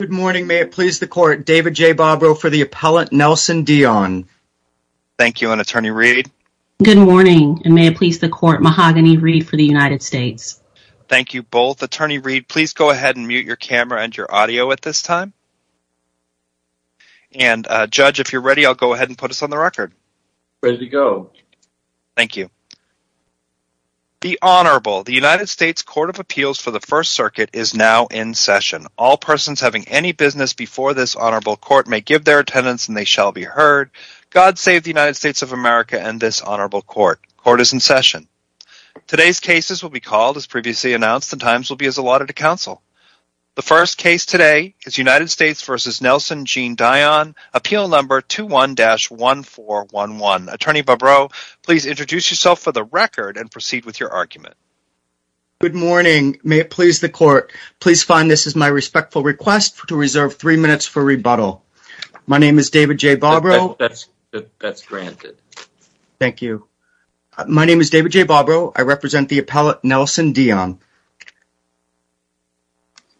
Good morning, may it please the court, David J. Bobrow for the appellant, Nelson Dion. Thank you, and Attorney Reed. Good morning, and may it please the court, Mahogany Reed for the United States. Thank you both. Attorney Reed, please go ahead and mute your camera and your audio at this time. And Judge, if you're ready, I'll go ahead and put us on the record. Ready to go. Thank you. The Honorable, the United States Court of Appeals for the First Circuit is now in session. All persons having any business before this Honorable Court may give their attendance and they shall be heard. God save the United States of America and this Honorable Court. Court is in session. Today's cases will be called, as previously announced, and times will be as allotted to counsel. The first case today is United States v. Nelson Jean Dion, appeal number 21-1411. Attorney Bobrow, please introduce yourself for the record and proceed with your argument. Good morning. May it please the court, please find this is my respectful request to reserve three minutes for rebuttal. My name is David J. Bobrow. That's granted. Thank you. My name is David J. Bobrow. I represent the appellate, Nelson Dion.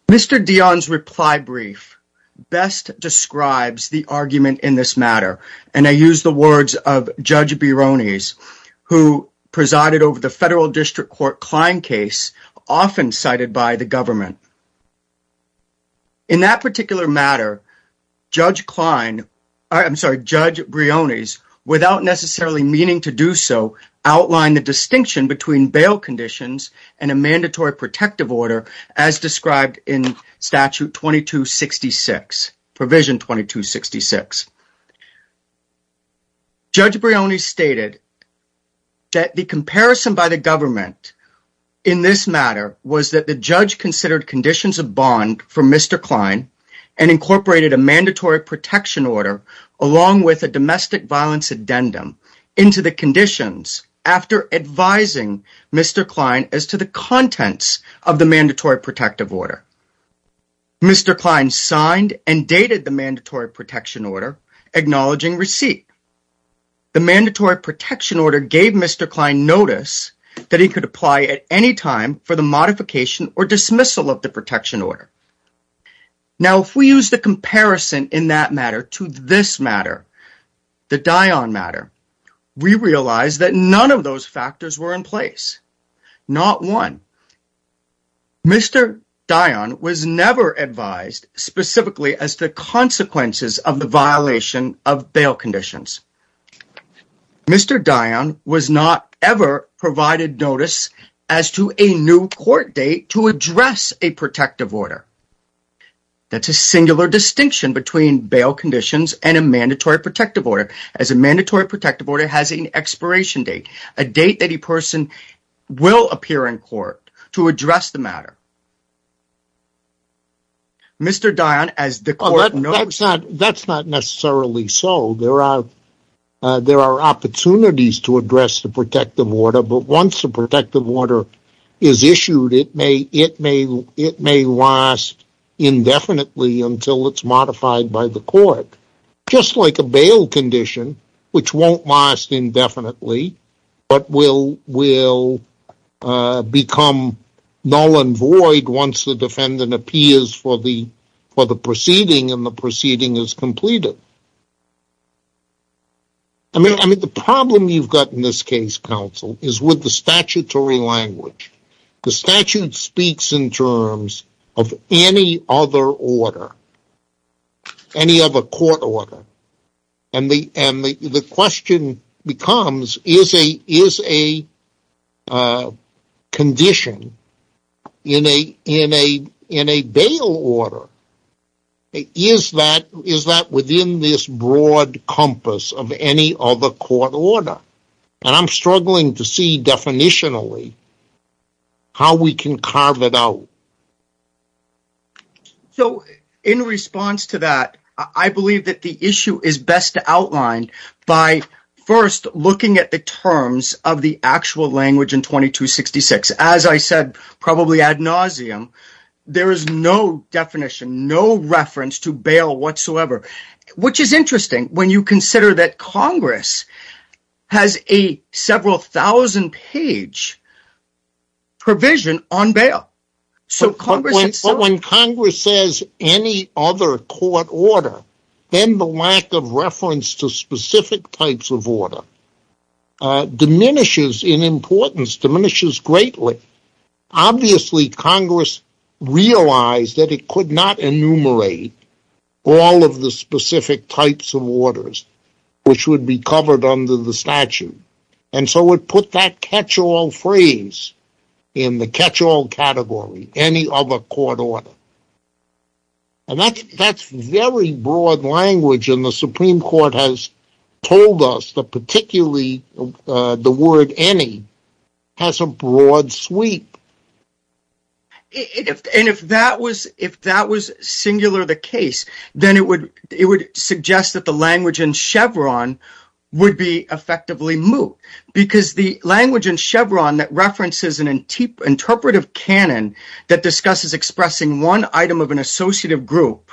Mr. Dion's reply brief best describes the argument in this matter, and I use the words of Judge Briones, who presided over the Federal District Court Klein case, often cited by the government. In that particular matter, Judge Klein, I'm sorry, Judge Briones, without necessarily meaning to do so, outlined the distinction between bail conditions and a mandatory protection order. Mr. Klein stated that the comparison by the government in this matter was that the judge considered conditions of bond for Mr. Klein and incorporated a mandatory protection order along with a domestic violence addendum into the conditions after advising Mr. Klein as to the contents of the mandatory protective order. Mr. Klein signed and dated the mandatory protection order, acknowledging receipt. The mandatory protection order gave Mr. Klein notice that he could apply at any time for the modification or dismissal of the protection order. Now, if we use the comparison in that matter to this matter, the Dion matter, we realize that none of those factors were in place, not one. Mr. Dion was never advised specifically as to the consequences of the violation of bail conditions. Mr. Dion was not ever provided notice as to a new court date to address a protective order. That's a singular distinction between bail conditions and a mandatory protective order, as a mandatory protective order has an expiration date, a date that a person will appear in court to address the the court. That's not necessarily so. There are opportunities to address the protective order, but once the protective order is issued, it may last indefinitely until it's modified by the court, just like a bail condition, which won't last indefinitely, but will become null and void once the defendant appears for the proceeding and the proceeding is completed. I mean, the problem you've got in this case, counsel, is with the statutory language. The statute speaks in terms of any other order, any other court order, and the question becomes, is a condition in a bail order, is that within this broad compass of any other court order? I'm struggling to see, definitionally, how we can carve it out. So, in response to that, I believe that the issue is best outlined by first looking at the terms of the actual language in 2266. As I said, probably ad nauseum, there is no definition, no reference to bail whatsoever, which is interesting when you consider that Congress has a several thousand page provision on bail. But when Congress says any other court order, then the lack of reference to specific types of order diminishes in importance, diminishes greatly. Obviously, Congress realized that it could not enumerate all of the specific types of orders, which would be covered under the statute, and so it put that catch-all phrase in the catch-all category, any other court order. And that's very broad language, and the Supreme Court has told us that particularly the word any has a broad sweep. And if that was singular the case, then it would suggest that language in Chevron would be effectively moot, because the language in Chevron that references an interpretive canon that discusses expressing one item of an associative group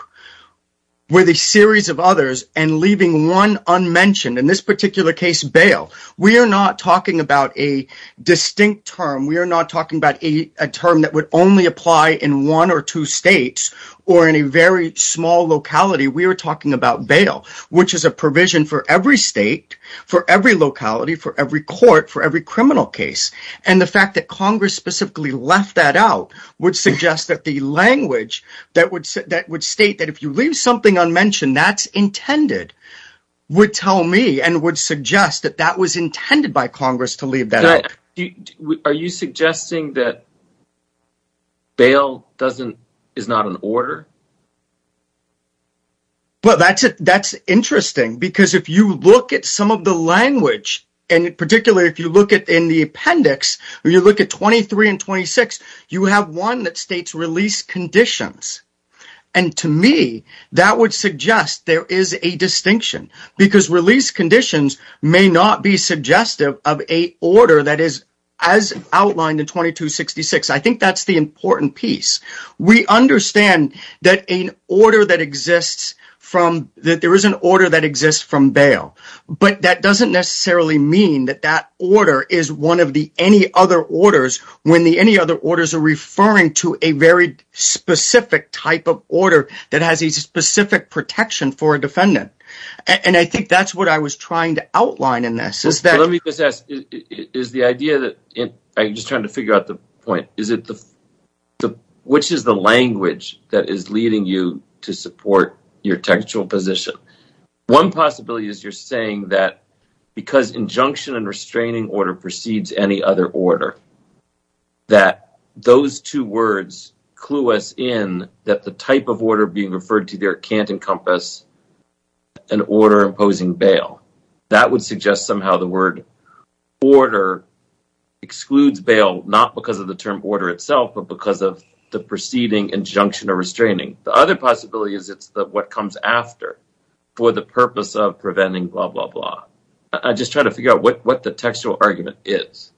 with a series of others and leaving one unmentioned, in this particular case, bail. We are not talking about a distinct term, we are not talking about a term that would only apply in one or two states, or in a very small locality. We are talking about bail, which is a provision for every state, for every locality, for every court, for every criminal case. And the fact that Congress specifically left that out would suggest that the language that would state that if you leave something unmentioned, that's intended, would tell me and would suggest that that was intended by order. But that's interesting, because if you look at some of the language, and particularly if you look at in the appendix, you look at 23 and 26, you have one that states release conditions. And to me, that would suggest there is a distinction, because release conditions may not be suggestive of a order that is as outlined in 2266. I think that's the important piece. We understand that an order that exists from, that there is an order that exists from bail. But that doesn't necessarily mean that that order is one of the any other orders, when the any other orders are referring to a very specific type of order that has a specific protection for a defendant. And I think that's what I was trying to outline in this. Let me just ask, is the idea that, I'm just trying to figure out the point, is it the, which is the language that is leading you to support your textual position? One possibility is you're saying that because injunction and restraining order precedes any other order, that those two words clue us in that the type of order being referred to there can't encompass an order imposing bail. That would suggest somehow the word order excludes bail, not because of the term order itself, but because of the preceding injunction or restraining. The other possibility is it's the, what comes after for the purpose of preventing blah, blah, blah. I just try to figure out what the textual argument is.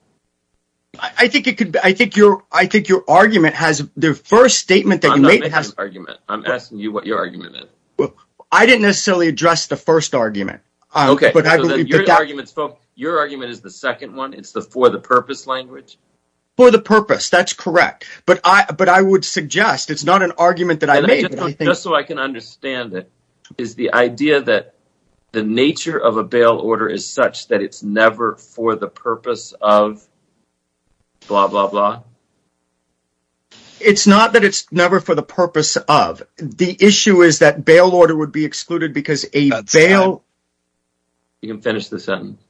I think it could be, I think your, I think your argument has the first statement that you made. I'm not making an argument. I'm asking you what your argument is. Well, I didn't necessarily address the first argument. Okay. Your argument is the second one. It's the, for the purpose language. For the purpose. That's correct. But I, but I would suggest it's not an argument that I made. Just so I can understand it, is the idea that the nature of a bail order is such that it's never for the purpose of the issue is that bail order would be excluded because a bail, you can finish this sentence.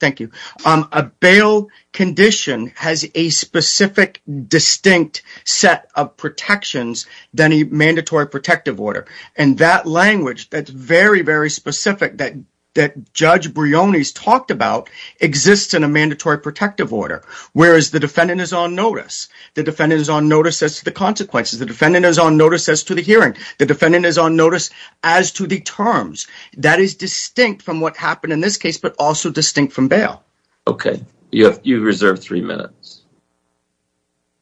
Thank you. A bail condition has a specific distinct set of protections than a mandatory protective order. And that language that's very, very specific that, that judge Brioni's talked about exists in a mandatory protective order. Whereas the defendant is on notice. The defendant is on notice as to the consequences. The defendant is on notice as to the hearing. The defendant is on notice as to the terms that is distinct from what happened in this case, but also distinct from bail. Okay. You have, you reserved three minutes.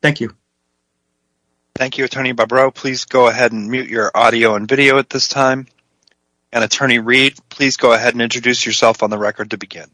Thank you. Thank you, attorney Bobrow. Please go ahead and mute your audio and video at this time and attorney Reed, please go ahead and introduce yourself on the record to begin.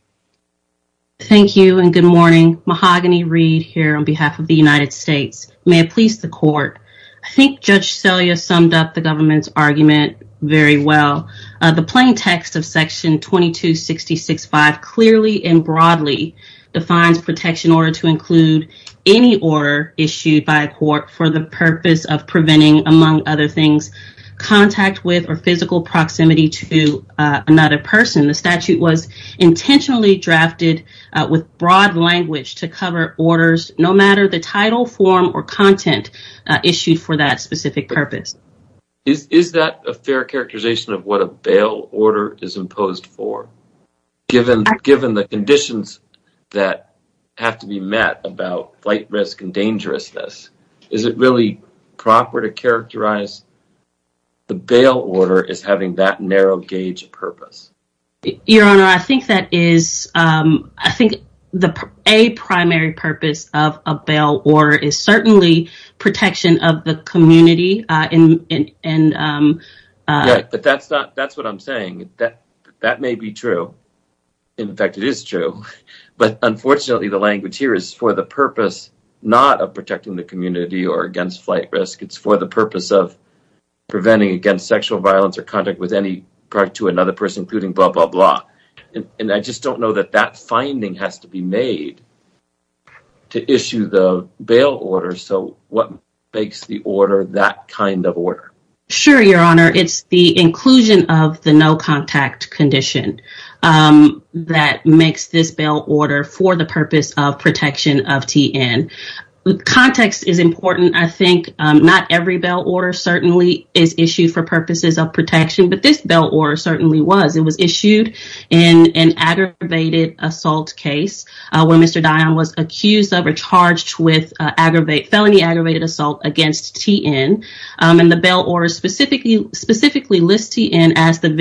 Thank you and good morning. Mahogany Reed here on behalf of the United States. May it please the court. I think judge Selya summed up the government's argument very well. The plain text of section 2266-5 clearly and broadly defines protection order to include any order issued by a court for the purpose of preventing among other things, contact with or physical proximity to another person. The statute was intentionally drafted with broad language to cover orders, no matter the title form or content issued for that specific purpose. Is that a fair characterization of what a bail order is imposed for given, given the conditions that have to be met about flight risk and dangerousness? Is it really proper to characterize the bail order as having that narrow gauge purpose? Your honor, I think that is, um, I think the a primary purpose of a bail order is certainly protection of the community. Uh, and, and, um, yeah, but that's not, that's what I'm saying. That, that may be true. In fact, it is true, but unfortunately the language here is for the purpose, not of protecting the community or against flight risk. It's for the purpose of preventing against sexual violence or contact with any product to another person, including blah, blah, blah. And I just don't know that that finding has to be made to issue the bail order. So what makes the order that kind of order? Sure. Your honor, it's the inclusion of the no contact condition, um, that makes this bail order for the purpose of protection of TN. Context is important. I think, um, not every bail order certainly is issued for purposes of protection, but this bail order certainly was. It was issued in an aggravated assault case, uh, where Mr. Dion was accused of or charged with aggravate felony, aggravated assault against TN. Um, and the bail order specifically, specifically lists TN as the and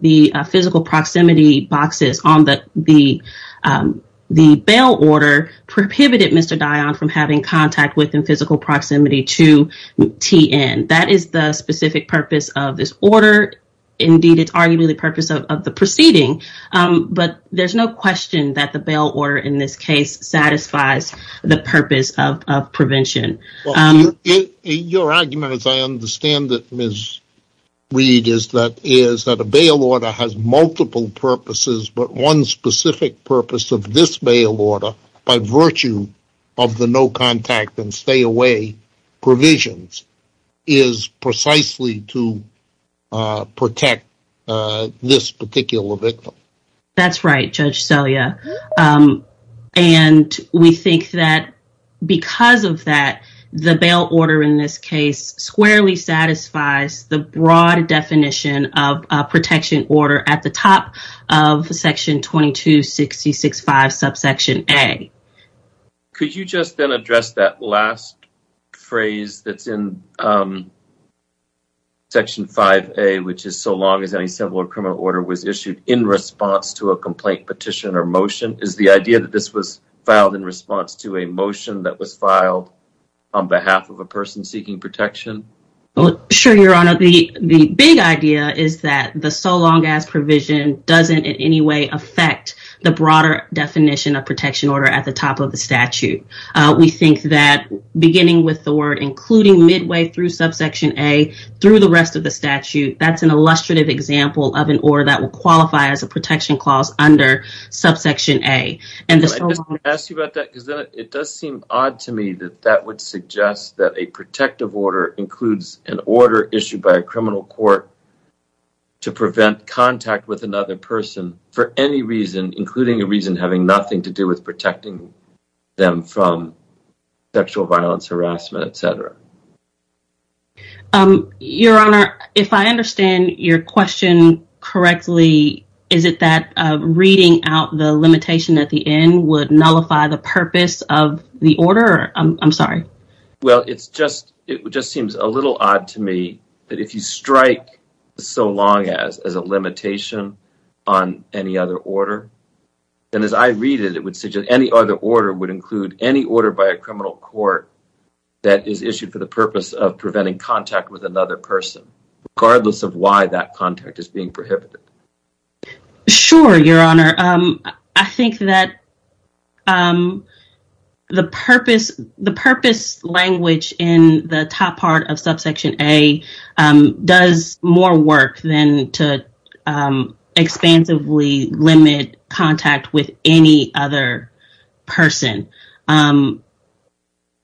the, uh, physical proximity boxes on the, the, um, the bail order prohibited Mr. Dion from having contact within physical proximity to TN. That is the specific purpose of this order. Indeed, it's arguably the purpose of the proceeding. Um, but there's no question that the bail order in this case satisfies the purpose of prevention. Well, your argument, as I understand it, Ms. Reed, is that, is that a bail order has multiple purposes, but one specific purpose of this bail order by virtue of the no contact and stay away provisions is precisely to, uh, protect, uh, this particular victim. That's right, Judge Celia. Um, and we think that because of that, the bail order in this case squarely satisfies the broad definition of a protection order at the top of section 22-66-5 subsection A. Could you just then address that last phrase that's in, um, section 5A, which is so long as any civil or criminal order was issued in response to a complaint petition or motion? Is the idea that this was filed in response to a motion that was filed on behalf of a person seeking protection? Well, sure, your honor. The, the big idea is that the so long as provision doesn't in any way affect the broader definition of protection order at the top of the statute. Uh, we think that beginning with the word, including midway through subsection A through the rest of the statute, that's an illustrative example of an order that will qualify as a protection clause under subsection A. I just want to ask you about that because it does seem odd to me that that would suggest that a protective order includes an order issued by a criminal court to prevent contact with another person for any reason, including a reason having nothing to do with protecting them from sexual violence, harassment, etc. Um, your honor, if I understand your question correctly, is it that, uh, reading out the limitation at the end would nullify the purpose of the order? I'm sorry. Well, it's just, it just seems a little odd to me that if you strike so long as, as a limitation on any other order, then as I read it, it would suggest any other order would include any order by a criminal court that is issued for the purpose of preventing contact with another person, regardless of why that contact is being prohibited. Sure, your honor. Um, I think that, um, the purpose, the purpose language in the top part of subsection A, um, does more work than to, um, expansively limit contact with any other person. Um,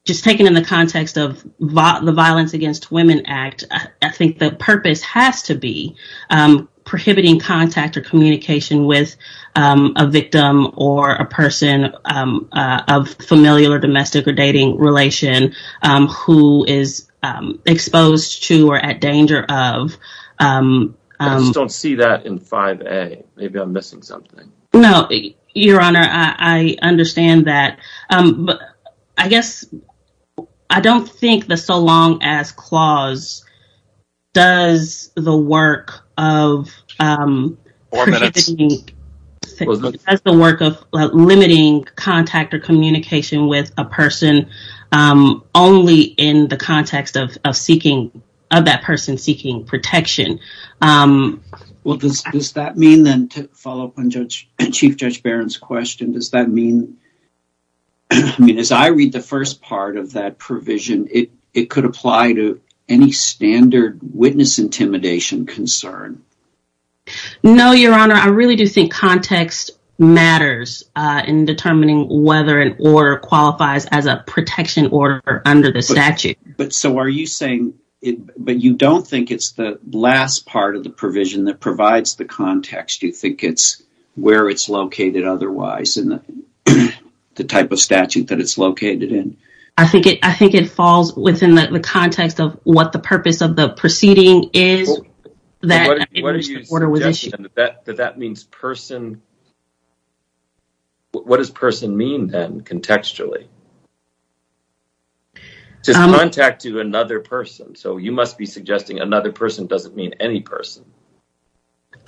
just taking in the context of the Violence Against Women Act, I think the purpose has to be, um, prohibiting contact or communication with, um, a victim or a person, um, uh, of familial or domestic or dating relation, um, who is, um, exposed to or at No, your honor. I understand that. Um, but I guess I don't think the so long as clause does the work of, um, has the work of limiting contact or communication with a person, um, only in the context of, of seeking of that person seeking protection. Um, does that mean then to follow up on judge and chief judge Barron's question? Does that mean, I mean, as I read the first part of that provision, it, it could apply to any standard witness intimidation concern. No, your honor. I really do think context matters, uh, in determining whether an order qualifies as a protection order under the statute. But so are you saying it, but you don't think it's the last part of the provision that provides the context. Do you think it's where it's located otherwise in the type of statute that it's located in? I think it, I think it falls within the context of what the purpose of the proceeding is that that means person. What does person mean then contextually? Just contact to another person. So you must be suggesting another person doesn't mean any person.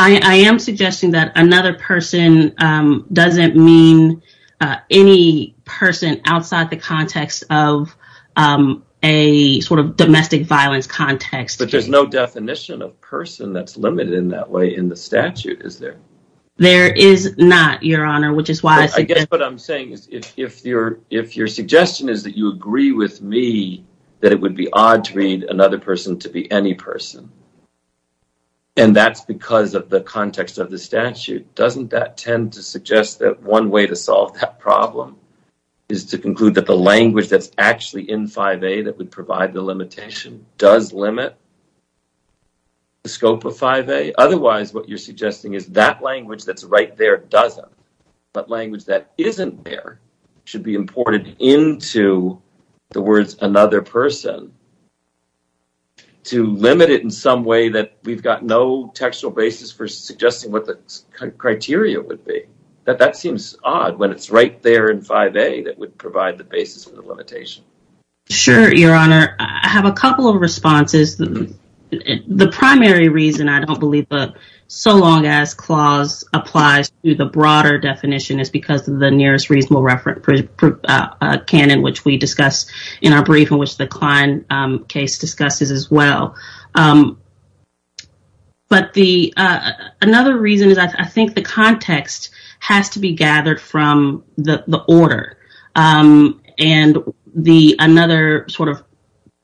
I am suggesting that another person, um, doesn't mean, uh, any person outside the context of, um, a sort of domestic violence context. But there's no definition of person that's there is not your honor, which is why I guess what I'm saying is if you're, if your suggestion is that you agree with me, that it would be odd to read another person to be any person. And that's because of the context of the statute, doesn't that tend to suggest that one way to solve that problem is to conclude that the language that's actually in 5A that would language that's right there doesn't, but language that isn't there should be imported into the words another person to limit it in some way that we've got no textual basis for suggesting what the criteria would be. That that seems odd when it's right there in 5A that would provide the basis for the limitation. Sure. Your honor, I have a couple of responses. The primary reason I don't believe the so long as clause applies to the broader definition is because of the nearest reasonable reference canon, which we discussed in our brief in which the Klein case discusses as well. Um, but the, uh, another reason is I think the context has to be gathered from the order. Um, and the, another sort of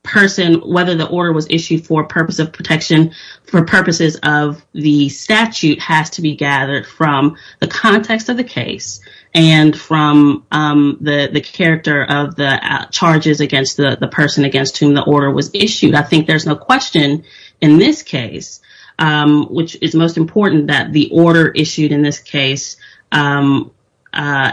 person, whether the order was issued for purpose of protection for purposes of the statute has to be gathered from the context of the case and from, um, the, the character of the charges against the person against whom the order was issued. I think there's no question in this case, um, which is most important that the order issued in this case, um, uh,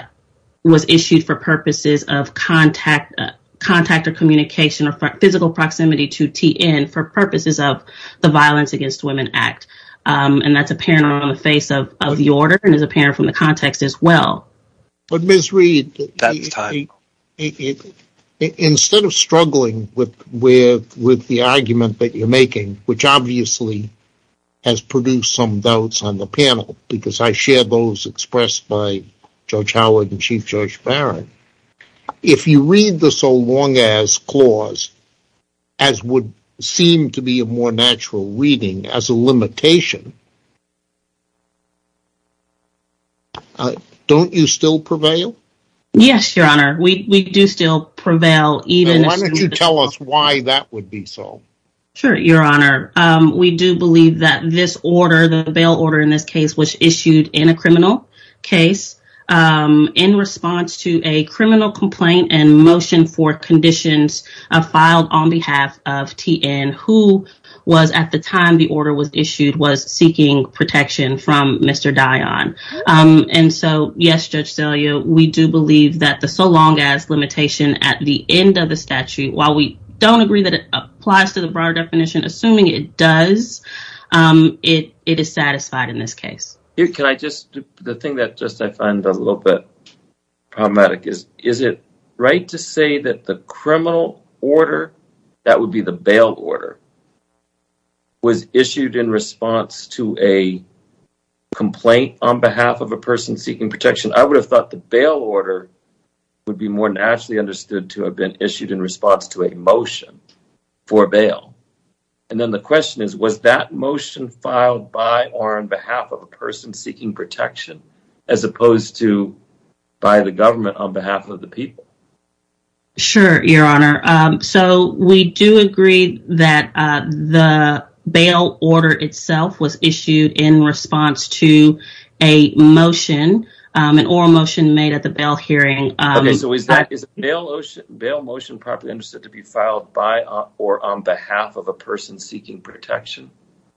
was issued for purposes of contact contact or communication or physical proximity to TN for purposes of the violence against women act. Um, and that's apparent on the face of the order and is apparent from the context as well. But Ms. Reed, instead of struggling with, with, with the argument that you're making, which obviously has produced some doubts on the panel, because I share those expressed by Judge Howard and Chief Judge Barrett. If you read the so long as clause, as would seem to be a more natural reading as a limitation, don't you still prevail? Yes, your honor. We, we do still prevail. Why don't you tell us why that would be so? Sure. Your honor. Um, we do believe that this order, the bail order in this case was issued in a criminal case, um, in response to a criminal complaint and motion for conditions filed on behalf of TN who was at the time the order was issued was seeking protection from Mr. Dion. Um, and so yes, Judge Delia, we do believe that the so long as limitation at the end of the statute, while we don't agree that it applies to the broader definition, assuming it does, um, it, it is satisfied in this case. Can I just, the thing that just, I find a little bit problematic is, is it right to say that the criminal order that would be the bail order was issued in response to a complaint on behalf of a person seeking protection? I would have thought the bail order would be more naturally understood to have been issued in response to a motion for bail. And then the question is, was that motion filed by or on behalf of a person seeking protection as opposed to by the government on behalf of the people? Sure, your honor. Um, so we do agree that, uh, the bail order itself was issued in response to a motion, um, an oral motion made at the bail hearing. Okay, so is that, is bail motion properly understood to be filed by or on behalf of a person seeking protection?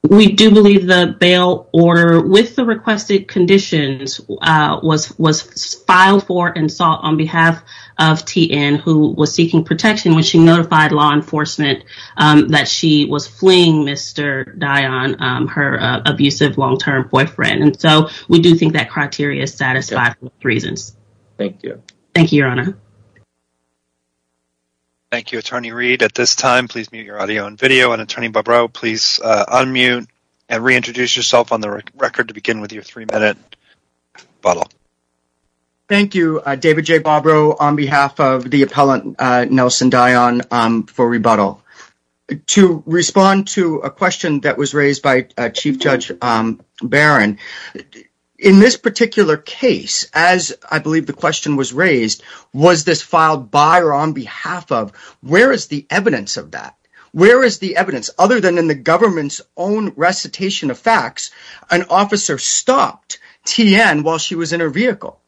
We do believe the bail order with the requested conditions, uh, was, was filed for and sought on behalf of T.N. who was seeking protection when she notified law enforcement, um, that she was fleeing Mr. Dion, um, her, uh, abusive long-term boyfriend. And so we do think that criteria is satisfied with reasons. Thank you. Thank you, your honor. Thank you, attorney Reed. At this time, please mute your audio and video and attorney please, uh, unmute and reintroduce yourself on the record to begin with your three-minute rebuttal. Thank you, uh, David J. Bobrow on behalf of the appellant, uh, Nelson Dion, um, for rebuttal. To respond to a question that was raised by, uh, Chief Judge, um, Barron, in this particular case, as I believe the question was raised, was this filed by or on behalf of, where is the evidence of that? Where is the evidence other than in the government's own recitation of facts, an officer stopped T.N. while she was in her vehicle?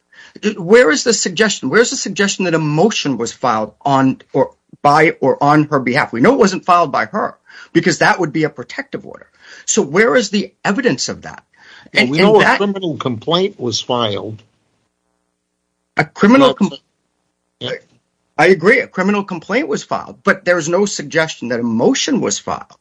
Where is the suggestion? Where's the suggestion that a motion was filed on or by or on her behalf? We know it wasn't filed by her because that would be a protective order. So where is the evidence of that? And we know a criminal complaint was filed. A criminal complaint. I agree a criminal complaint was filed, but there was no suggestion that a motion was filed.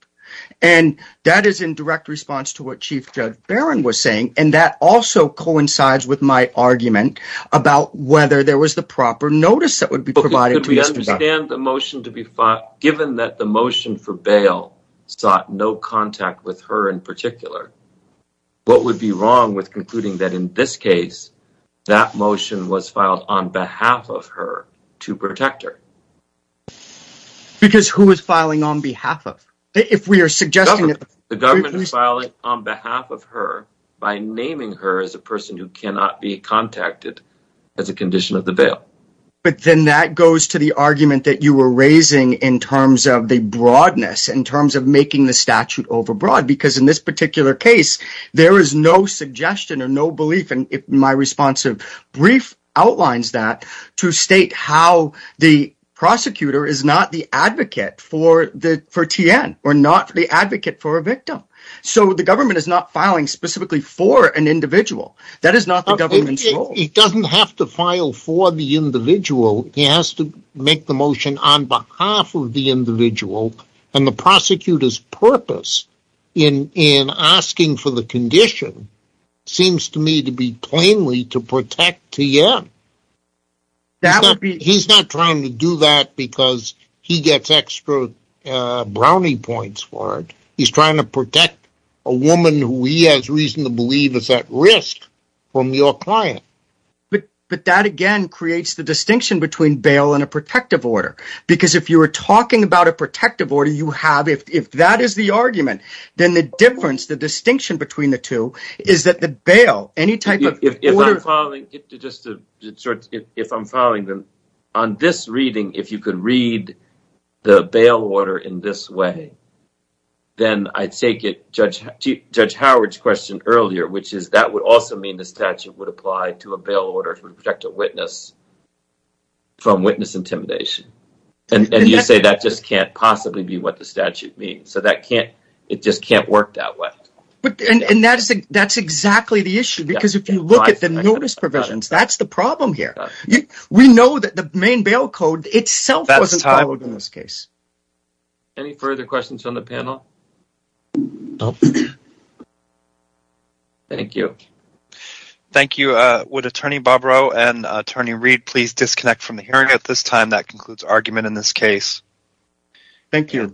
And that is in direct response to what Chief Judge Barron was saying. And that also coincides with my argument about whether there was the proper notice that would be provided. Could we understand the motion to be filed, given that the motion for bail sought no contact with her in particular, what would be wrong with concluding that in this case, that motion was filed on behalf of her to protect her? Because who is filing on behalf of? If we are suggesting that the government is filing on behalf of her by naming her as a person who cannot be contacted as a condition of the bail. But then that goes to the argument that you were in this particular case, there is no suggestion or no belief in my responsive brief outlines that to state how the prosecutor is not the advocate for the for T.N. or not the advocate for a victim. So the government is not filing specifically for an individual. That is not the government's role. It doesn't have to file for the individual. He has to make the motion on behalf of the individual and the prosecutor's purpose in asking for the condition seems to me to be plainly to protect T.N. He's not trying to do that because he gets extra brownie points for it. He's trying to protect a woman who he has reason to believe is at risk from your client. But that again creates the distinction between bail and a protective order, because if you were talking about a protective order, you have if that is the argument, then the difference, the distinction between the two is that the bail any type of if I'm following them on this reading, if you could read the bail order in this way, then I'd take it. Judge Judge Howard's question earlier, which is that would also mean the statute would apply to a bail order to protect a witness. From witness intimidation, and you say that just can't possibly be what the statute means, so that can't it just can't work that way. And that's that's exactly the issue, because if you look at the notice provisions, that's the problem here. We know that the main bail code itself wasn't followed in this case. Any further questions on the panel? Nope. Thank you. Thank you. Would Attorney Bob Rowe and Attorney Reed please disconnect from the hearing at this time? That concludes argument in this case. Thank you.